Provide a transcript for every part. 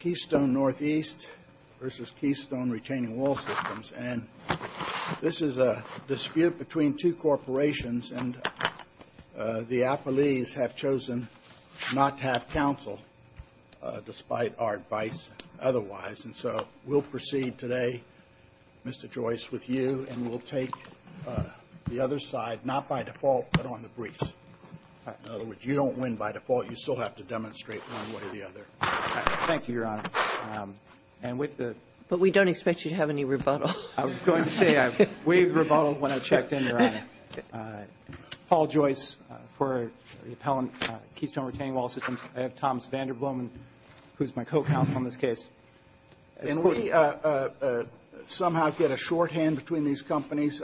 Keystone Northeast v. Keystone Retaining Wall Systems, and this is a dispute between two corporations, and the affilees have chosen not to have counsel despite our advice otherwise. And so we'll proceed today, Mr. Joyce, with you, and we'll take the other side, not by default, but on the briefs. In other words, you don't win by default. You still have to But we don't expect you to have any rebuttal. I was going to say, we rebuttaled when I checked in, Your Honor. Paul Joyce for the appellant, Keystone Retaining Wall Systems. I have Thomas Vanderblom, who's my co-counsel in this case. Can we somehow get a shorthand between these companies?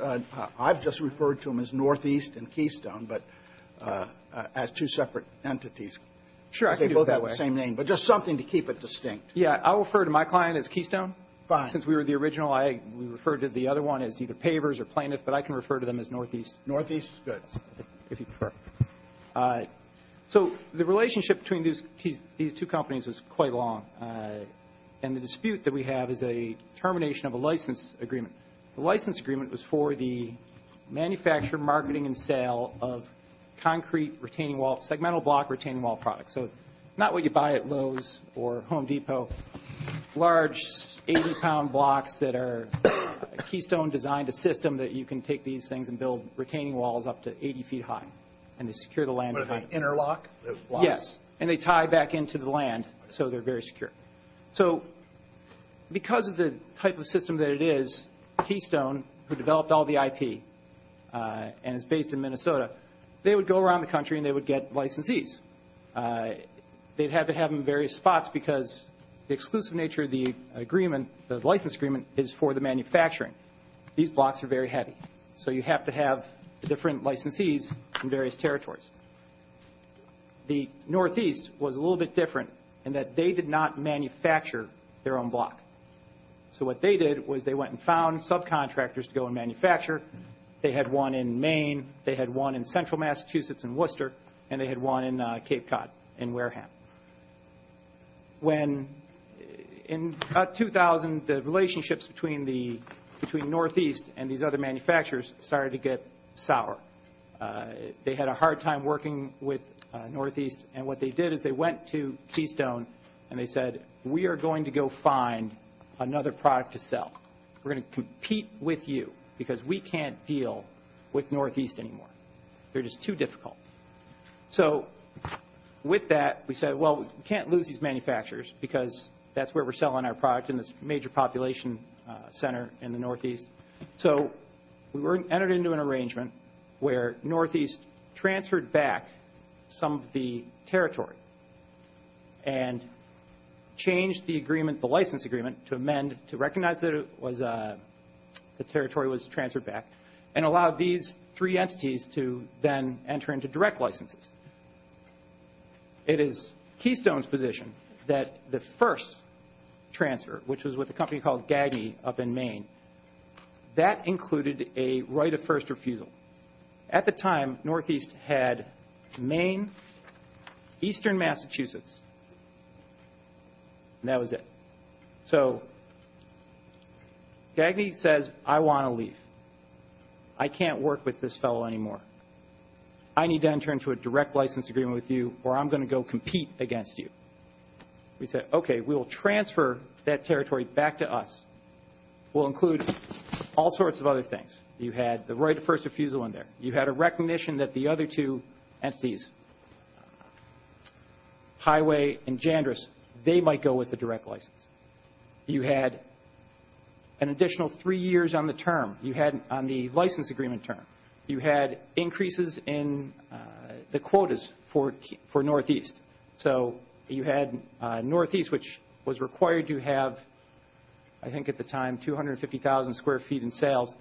I've just referred to them as Northeast and Keystone, but as two separate entities. Sure, I can do it that way. Same name, but just something to keep it distinct. Yeah, I'll refer to my client as Keystone. Fine. Since we were the original, I referred to the other one as either Pavers or Plaintiff, but I can refer to them as Northeast. Northeast is good. If you prefer. So the relationship between these two companies was quite long, and the dispute that we have is a termination of a license agreement. The license agreement was for the manufacture, marketing, and sale of concrete retaining wall, segmental block retaining wall products. So not what you buy at Lowe's or Home Depot, large 80-pound blocks that are Keystone designed a system that you can take these things and build retaining walls up to 80 feet high, and they secure the land behind them. With an interlock? Yes, and they tie back into the land, so they're very secure. So because of the type of system that it is, Keystone, who developed all the IP and is they'd have to have them in various spots because the exclusive nature of the agreement, the license agreement, is for the manufacturing. These blocks are very heavy, so you have to have different licensees in various territories. The Northeast was a little bit different in that they did not manufacture their own block. So what they did was they went and found subcontractors to go and manufacture. They had one in Maine, they had one in central Massachusetts in Worcester, and they had one in Cape Cod in Wareham. In about 2000, the relationships between Northeast and these other manufacturers started to get sour. They had a hard time working with Northeast, and what they did is they went to Keystone, and they said, we are going to go find another product to sell. We're going to compete with you because we can't deal with Northeast anymore. They're just too difficult. So with that, we said, well, we can't lose these manufacturers because that's where we're selling our product in this major population center in the Northeast. So we entered into an arrangement where Northeast transferred back some of the territory and changed the agreement, the license agreement, to amend, to recognize that the territory was transferred back and allowed these three entities to then enter into direct licenses. It is Keystone's position that the first transfer, which was with a company called Gagney up in Maine, that included a right of first refusal. At the time, Northeast had Maine, eastern Massachusetts, and that was it. So Gagney says, I want to leave. I can't work with this fellow anymore. I need to enter into a direct license agreement with you or I'm going to go compete against you. We said, okay, we will transfer that territory back to us. We'll include all sorts of other things. You had the right of first refusal in there. You had a recognition that the other two entities, Highway and Jandrus, they might go with a direct license. You had an additional three years on the license agreement term. You had increases in the quotas for Northeast. So you had Northeast, which was required to have, I think at the time, 250,000 square feet in sales.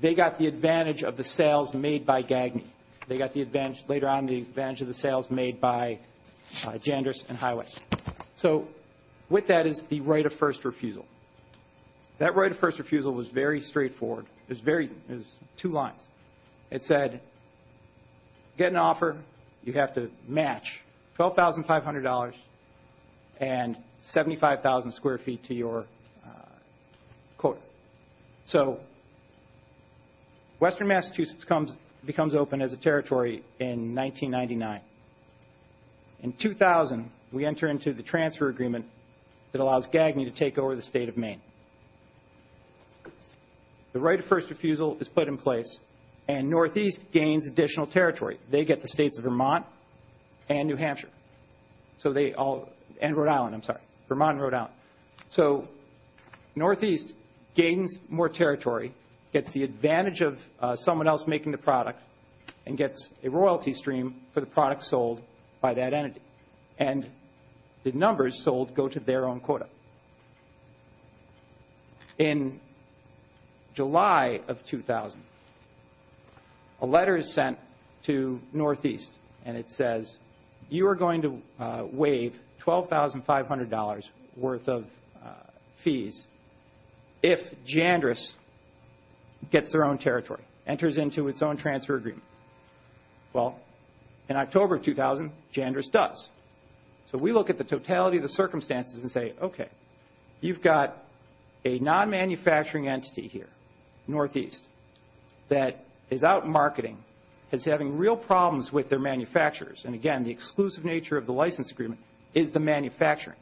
They got the advantage of the sales made by Gagney. They got later on the advantage of the sales made by Jandrus and Highway. So with that is the right of first refusal. That right of first refusal was very straightforward. It was two lines. It said, get an offer. You have to match $12,500 and 75,000 square feet to your quota. So Western Massachusetts becomes open as a territory in 1999. In 2000, we enter into the transfer agreement that allows Gagney to take over the state of Maine. The right of first refusal is put in place, and Northeast gains additional territory. They get the states of Vermont and New Hampshire, and Rhode Island, I'm sorry, Vermont and Rhode Island. So Northeast gains more territory, gets the advantage of someone else making the product, and gets a royalty stream for the product sold by that entity. And the numbers sold go to their own quota. So in July of 2000, a letter is sent to Northeast, and it says, you are going to waive $12,500 worth of fees if Jandrus gets their own territory, enters into its own transfer agreement. Well, in October 2000, Jandrus does. So we look at the totality of the circumstances and say, okay, you've got a non-manufacturing entity here, Northeast, that is out marketing, is having real problems with their manufacturers, and again, the exclusive nature of the license agreement is the manufacturing.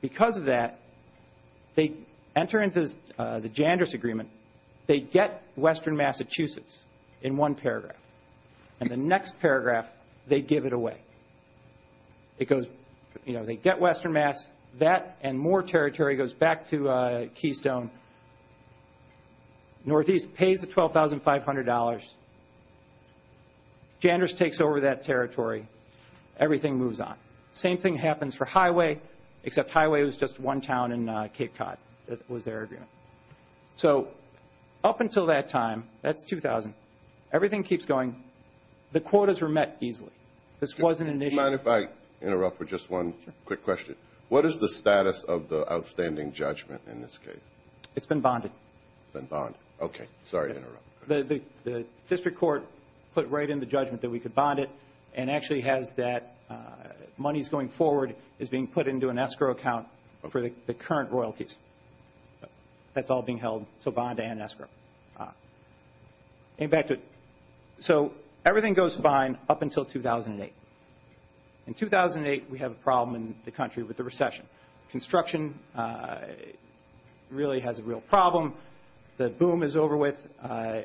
Because of that, they enter into the Jandrus agreement. And they get Western Massachusetts in one paragraph, and the next paragraph, they give it away. It goes, you know, they get Western Mass, that and more territory goes back to Keystone. Northeast pays the $12,500. Jandrus takes over that territory. Everything moves on. Same thing happens for Highway, except Highway was just one town in Cape Cod. That was their agreement. So up until that time, that's 2000, everything keeps going. The quotas were met easily. This wasn't an issue. Do you mind if I interrupt for just one quick question? Sure. What is the status of the outstanding judgment in this case? It's been bonded. It's been bonded. Okay. Sorry to interrupt. The district court put right in the judgment that we could bond it and actually has that monies going forward is being put into an escrow account for the current royalties. That's all being held, so bond and escrow. So everything goes fine up until 2008. In 2008, we have a problem in the country with the recession. Construction really has a real problem. The boom is over with.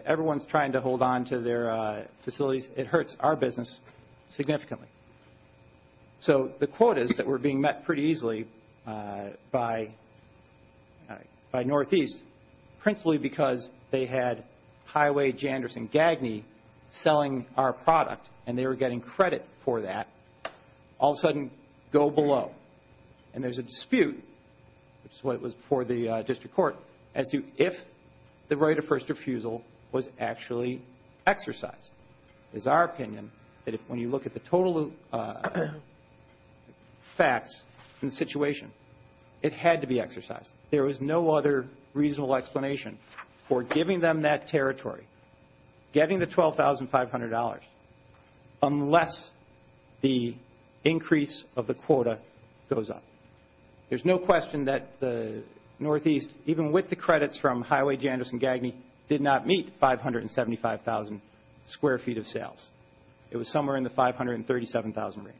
Everyone is trying to hold on to their facilities. It hurts our business significantly. So the quotas that were being met pretty easily by Northeast, principally because they had Highway, Janderson, Gagney selling our product and they were getting credit for that, all of a sudden go below. And there's a dispute, which is why it was before the district court, as to if the right of first refusal was actually exercised. It is our opinion that when you look at the total facts in the situation, it had to be exercised. There was no other reasonable explanation for giving them that territory, getting the $12,500 unless the increase of the quota goes up. There's no question that the Northeast, even with the credits from Highway, Janderson, Gagney, did not meet 575,000 square feet of sales. It was somewhere in the 537,000 range.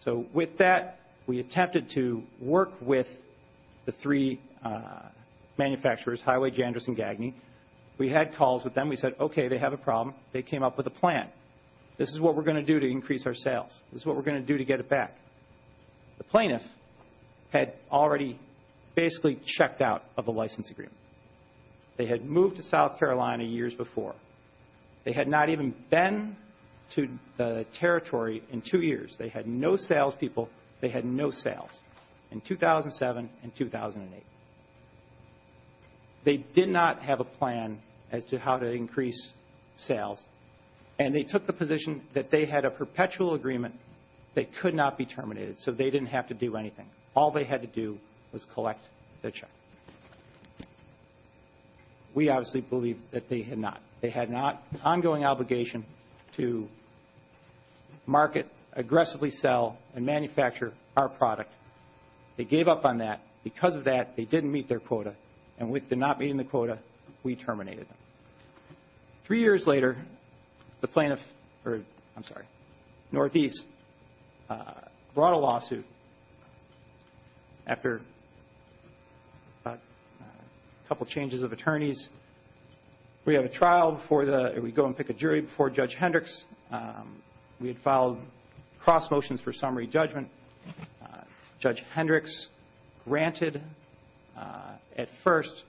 So with that, we attempted to work with the three manufacturers, Highway, Janderson, Gagney. We had calls with them. We said, okay, they have a problem. They came up with a plan. This is what we're going to do to increase our sales. This is what we're going to do to get it back. The plaintiff had already basically checked out of the license agreement. They had moved to South Carolina years before. They had not even been to the territory in two years. They had no salespeople. They had no sales in 2007 and 2008. They did not have a plan as to how to increase sales, and they took the position that they had a perpetual agreement that could not be terminated, so they didn't have to do anything. All they had to do was collect their check. We obviously believed that they had not. They had an ongoing obligation to market, aggressively sell, and manufacture our product. They gave up on that. Because of that, they didn't meet their quota, and with them not meeting the quota, we terminated them. Three years later, the plaintiff, or I'm sorry, Northeast, brought a lawsuit after a couple changes of attorneys. We have a trial before the – we go and pick a jury before Judge Hendricks. We had filed cross motions for summary judgment. Judge Hendricks granted, at first,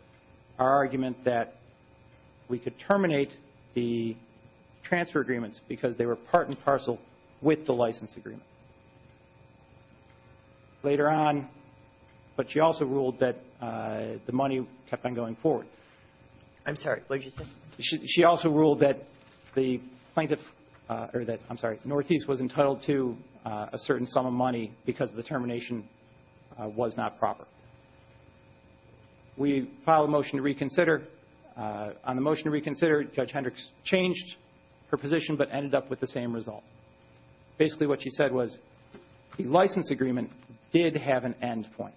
our argument that we could terminate the transfer agreements because they were part and parcel with the license agreement. Later on, but she also ruled that the money kept on going forward. I'm sorry, what did you say? She also ruled that the plaintiff – or that, I'm sorry, Northeast was entitled to a certain sum of money because the termination was not proper. We filed a motion to reconsider. On the motion to reconsider, Judge Hendricks changed her position but ended up with the same result. Basically, what she said was the license agreement did have an end point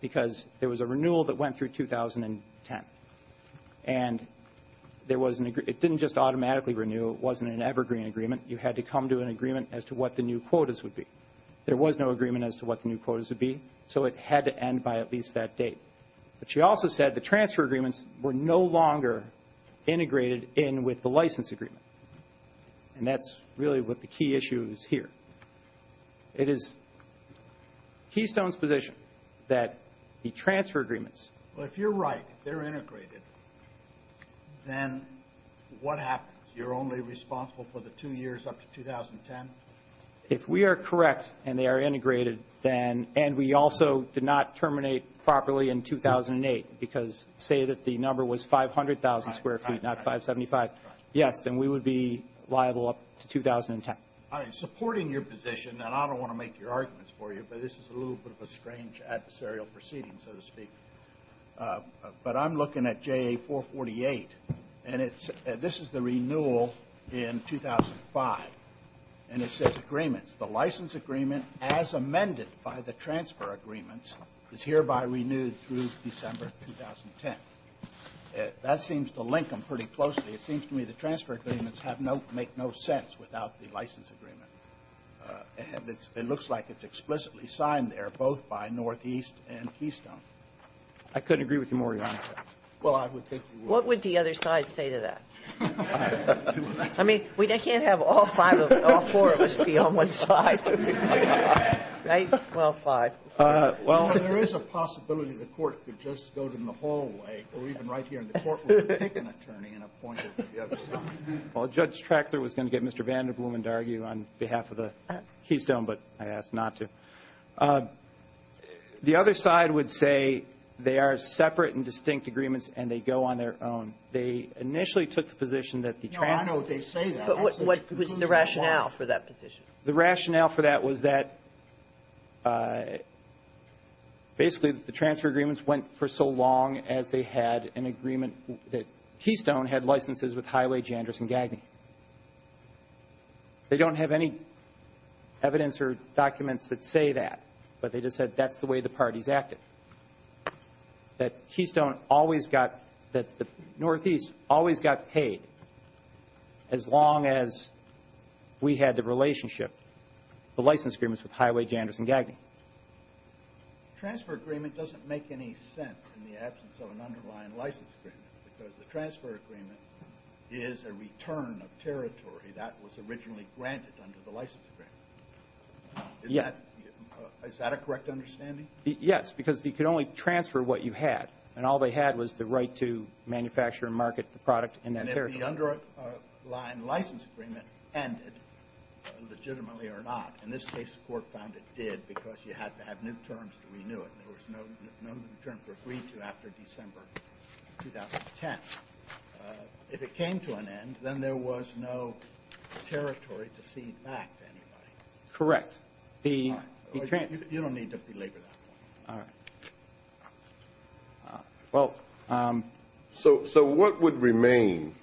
because there was a renewal that went through 2010. And there was an – it didn't just automatically renew. It wasn't an evergreen agreement. You had to come to an agreement as to what the new quotas would be. There was no agreement as to what the new quotas would be, so it had to end by at least that date. But she also said the transfer agreements were no longer integrated in with the license agreement. And that's really what the key issue is here. It is Keystone's position that the transfer agreements – if they are integrated, then what happens? You're only responsible for the two years up to 2010? If we are correct and they are integrated, then – and we also did not terminate properly in 2008 because say that the number was 500,000 square feet, not 575. Yes, then we would be liable up to 2010. All right, supporting your position, and I don't want to make your arguments for you, but this is a little bit of a strange adversarial proceeding, so to speak. But I'm looking at JA-448, and this is the renewal in 2005. And it says agreements. The license agreement as amended by the transfer agreements is hereby renewed through December 2010. That seems to link them pretty closely. It seems to me the transfer agreements make no sense without the license agreement. It looks like it's explicitly signed there both by Northeast and Keystone. I couldn't agree with you more, Your Honor. Well, I would think you would. What would the other side say to that? I mean, we can't have all five of – all four of us be on one side. Right? Well, fine. Well, there is a possibility the court could just go to them the whole way, or even right here, and the court would pick an attorney and appoint it to the other side. Well, Judge Traxler was going to get Mr. Vanderbloom to argue on behalf of Keystone, but I asked not to. The other side would say they are separate and distinct agreements, and they go on their own. They initially took the position that the transfer – No, I know they say that. But what was the rationale for that position? The rationale for that was that basically the transfer agreements went for so long as they had an agreement that Keystone had licenses with Highway, Jandrus, and Gagney. They don't have any evidence or documents that say that, but they just said that's the way the parties acted. That Keystone always got – that the Northeast always got paid as long as we had the relationship, the license agreements with Highway, Jandrus, and Gagney. The transfer agreement doesn't make any sense in the absence of an underlying license agreement because the transfer agreement is a return of territory that was originally granted under the license agreement. Yes. Is that a correct understanding? Yes, because you could only transfer what you had, and all they had was the right to manufacture and market the product in that territory. And if the underlying license agreement ended legitimately or not, in this case, the Court found it did because you had to have new terms to renew it. There was no new terms were agreed to after December 2010. If it came to an end, then there was no territory to cede back to anybody. Correct. You don't need to belabor that one. So what would remain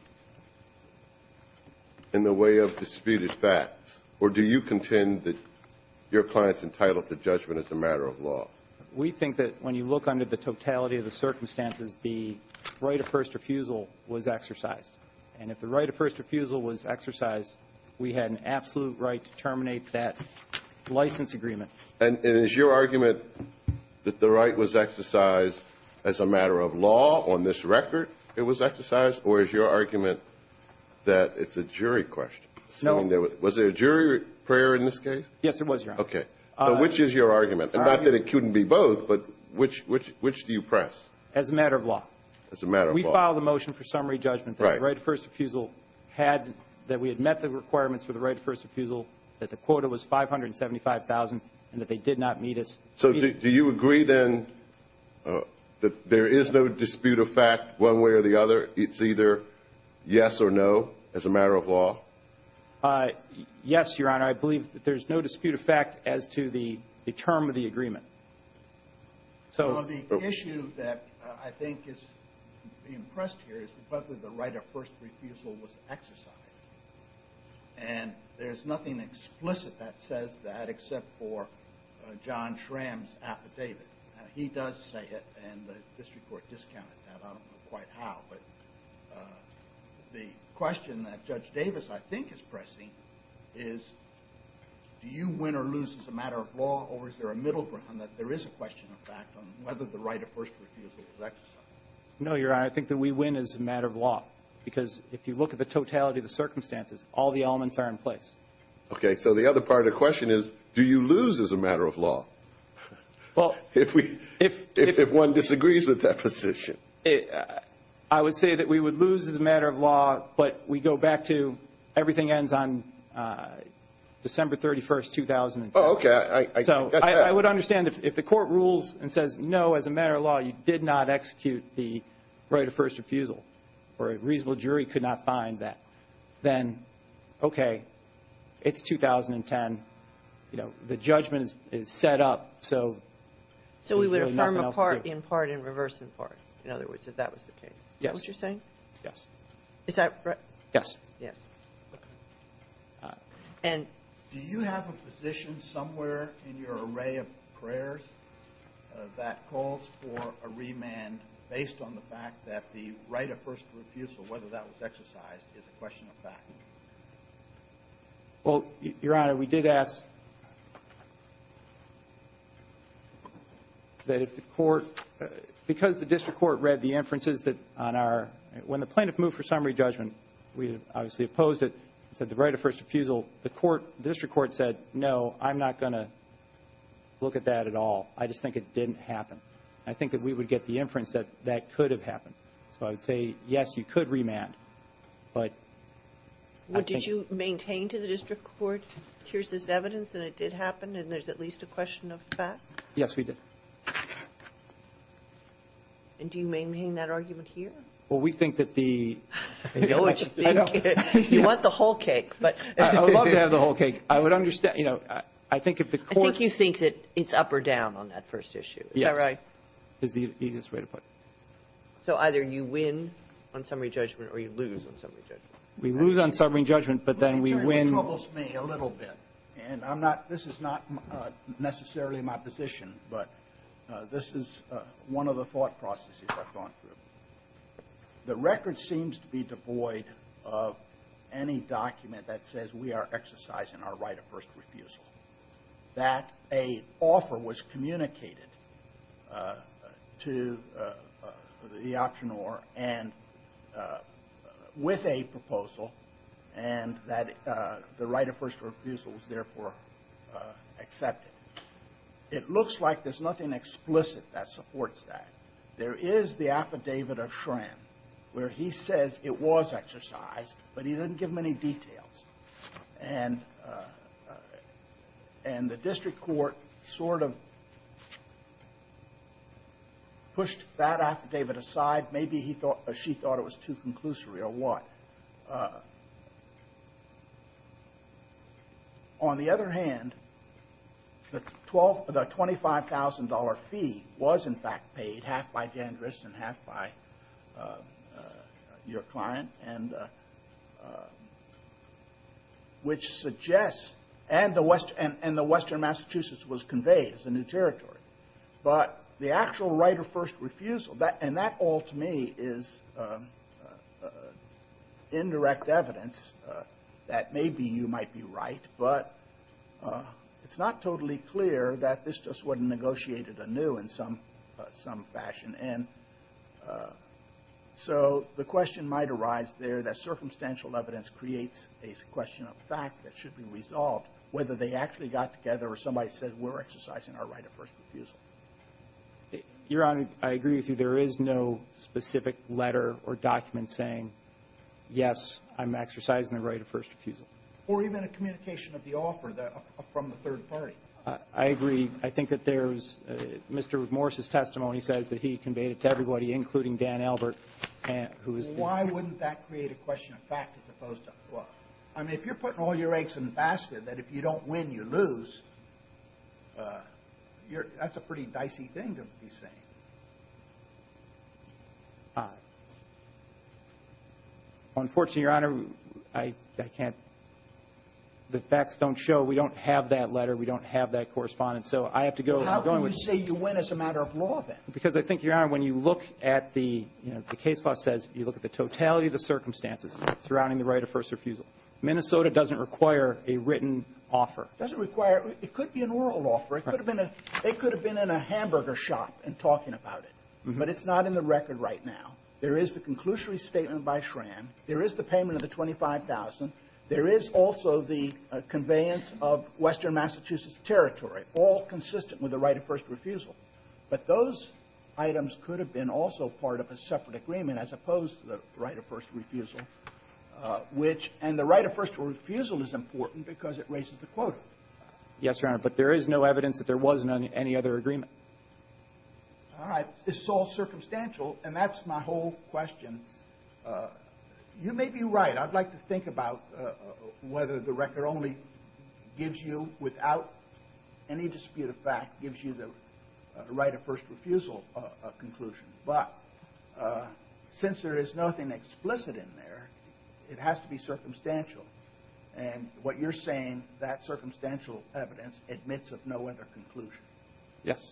in the way of disputed facts, or do you contend that your client's entitled to judgment as a matter of law? I do think that when you look under the totality of the circumstances, the right of first refusal was exercised. And if the right of first refusal was exercised, we had an absolute right to terminate that license agreement. And is your argument that the right was exercised as a matter of law on this record it was exercised, or is your argument that it's a jury question? No. Was there a jury prayer in this case? Yes, there was, Your Honor. Okay. So which is your argument? Not that it couldn't be both, but which do you press? As a matter of law. As a matter of law. We filed a motion for summary judgment that the right of first refusal had, that we had met the requirements for the right of first refusal, that the quota was $575,000, and that they did not meet us. So do you agree, then, that there is no dispute of fact one way or the other? It's either yes or no as a matter of law? Yes, Your Honor. And I believe that there's no dispute of fact as to the term of the agreement. So the issue that I think is being pressed here is that the right of first refusal was exercised. And there's nothing explicit that says that except for John Schramm's affidavit. He does say it, and the district court discounted that. I don't know quite how. But the question that Judge Davis, I think, is pressing is, do you win or lose as a matter of law, or is there a middle ground that there is a question of fact on whether the right of first refusal was exercised? No, Your Honor. I think that we win as a matter of law. Because if you look at the totality of the circumstances, all the elements are in place. Okay. So the other part of the question is, do you lose as a matter of law? Well, if we — If one disagrees with that position. I would say that we would lose as a matter of law, but we go back to everything ends on December 31, 2010. Oh, okay. I got that. So I would understand if the court rules and says, no, as a matter of law, you did not execute the right of first refusal, or a reasonable jury could not find that, then, okay, it's 2010. You know, the judgment is set up, so there's really nothing else to do. In part, in reverse, in part. In other words, if that was the case. Yes. Is that what you're saying? Yes. Is that right? Yes. Yes. And — Do you have a position somewhere in your array of prayers that calls for a remand based on the fact that the right of first refusal, whether that was exercised, is a question of fact? Well, Your Honor, we did ask that if the court — because the district court read the inferences that on our — when the plaintiff moved for summary judgment, we obviously opposed it. It said the right of first refusal. The court — the district court said, no, I'm not going to look at that at all. I just think it didn't happen. I think that we would get the inference that that could have happened. So I would say, yes, you could remand. But I think — Did you maintain to the district court, here's this evidence and it did happen and there's at least a question of fact? Yes, we did. And do you maintain that argument here? Well, we think that the — I know what you think. You want the whole cake, but — I would love to have the whole cake. I would understand — you know, I think if the court — I think you think that it's up or down on that first issue. Yes. Is that right? Is the easiest way to put it. So either you win on summary judgment or you lose on summary judgment. We lose on summary judgment, but then we win — Let me tell you what troubles me a little bit. And I'm not — this is not necessarily my position, but this is one of the thought processes I've gone through. The record seems to be devoid of any document that says we are exercising our right of first refusal, that a offer was communicated to the auctioneer and — with a proposal, and that the right of first refusal was therefore accepted. It looks like there's nothing explicit that supports that. There is the affidavit of Schramm where he says it was exercised, but he didn't give many details. And the district court sort of pushed that affidavit aside. Maybe he thought — she thought it was too conclusory or what. On the other hand, the $25,000 fee was in fact paid, half by Jan Drist and half by your client. And which suggests — and the western Massachusetts was conveyed as a new territory. But the actual right of first refusal, and that all to me is indirect evidence that maybe you might be right, but it's not totally clear that this just wasn't negotiated anew in some fashion. And so the question might arise there that circumstantial evidence creates a question of fact that should be resolved, whether they actually got together or somebody said we're exercising our right of first refusal. Your Honor, I agree with you. There is no specific letter or document saying, yes, I'm exercising the right of first refusal. Or even a communication of the offer from the third party. I agree. I think that there's — Mr. Morris' testimony says that he conveyed it to everybody, including Dan Albert, who is the — Well, why wouldn't that create a question of fact as opposed to — well, I mean, if you're putting all your eggs in the basket, that if you don't win, you lose, that's a pretty dicey thing to be saying. Unfortunately, Your Honor, I can't — the facts don't show. We don't have that letter. We don't have that correspondence. So I have to go — How can you say you win as a matter of law, then? Because I think, Your Honor, when you look at the — the case law says you look at the totality of the circumstances surrounding the right of first refusal. Minnesota doesn't require a written offer. It doesn't require — it could be an oral offer. It could have been a — they could have been in a hamburger shop and talking about it. But it's not in the record right now. There is the conclusory statement by Schramm. There is the payment of the $25,000. There is also the conveyance of western Massachusetts territory, all consistent with the right of first refusal. But those items could have been also part of a separate agreement as opposed to the right of first refusal, which — and the right of first refusal is important because it raises the quota. Yes, Your Honor, but there is no evidence that there was any other agreement. All right. It's all circumstantial, and that's my whole question. You may be right. I'd like to think about whether the record only gives you, without any dispute of fact, gives you the right of first refusal conclusion. But since there is nothing explicit in there, it has to be circumstantial. And what you're saying, that circumstantial evidence admits of no other conclusion. Yes.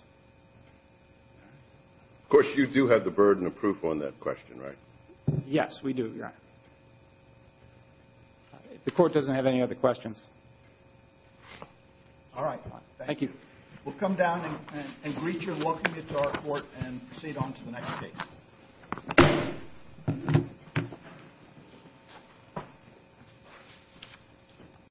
Of course, you do have the burden of proof on that question, right? Yes, we do, Your Honor. The Court doesn't have any other questions. All right. Thank you. We'll come down and greet you and welcome you to our Court and proceed on to the next case.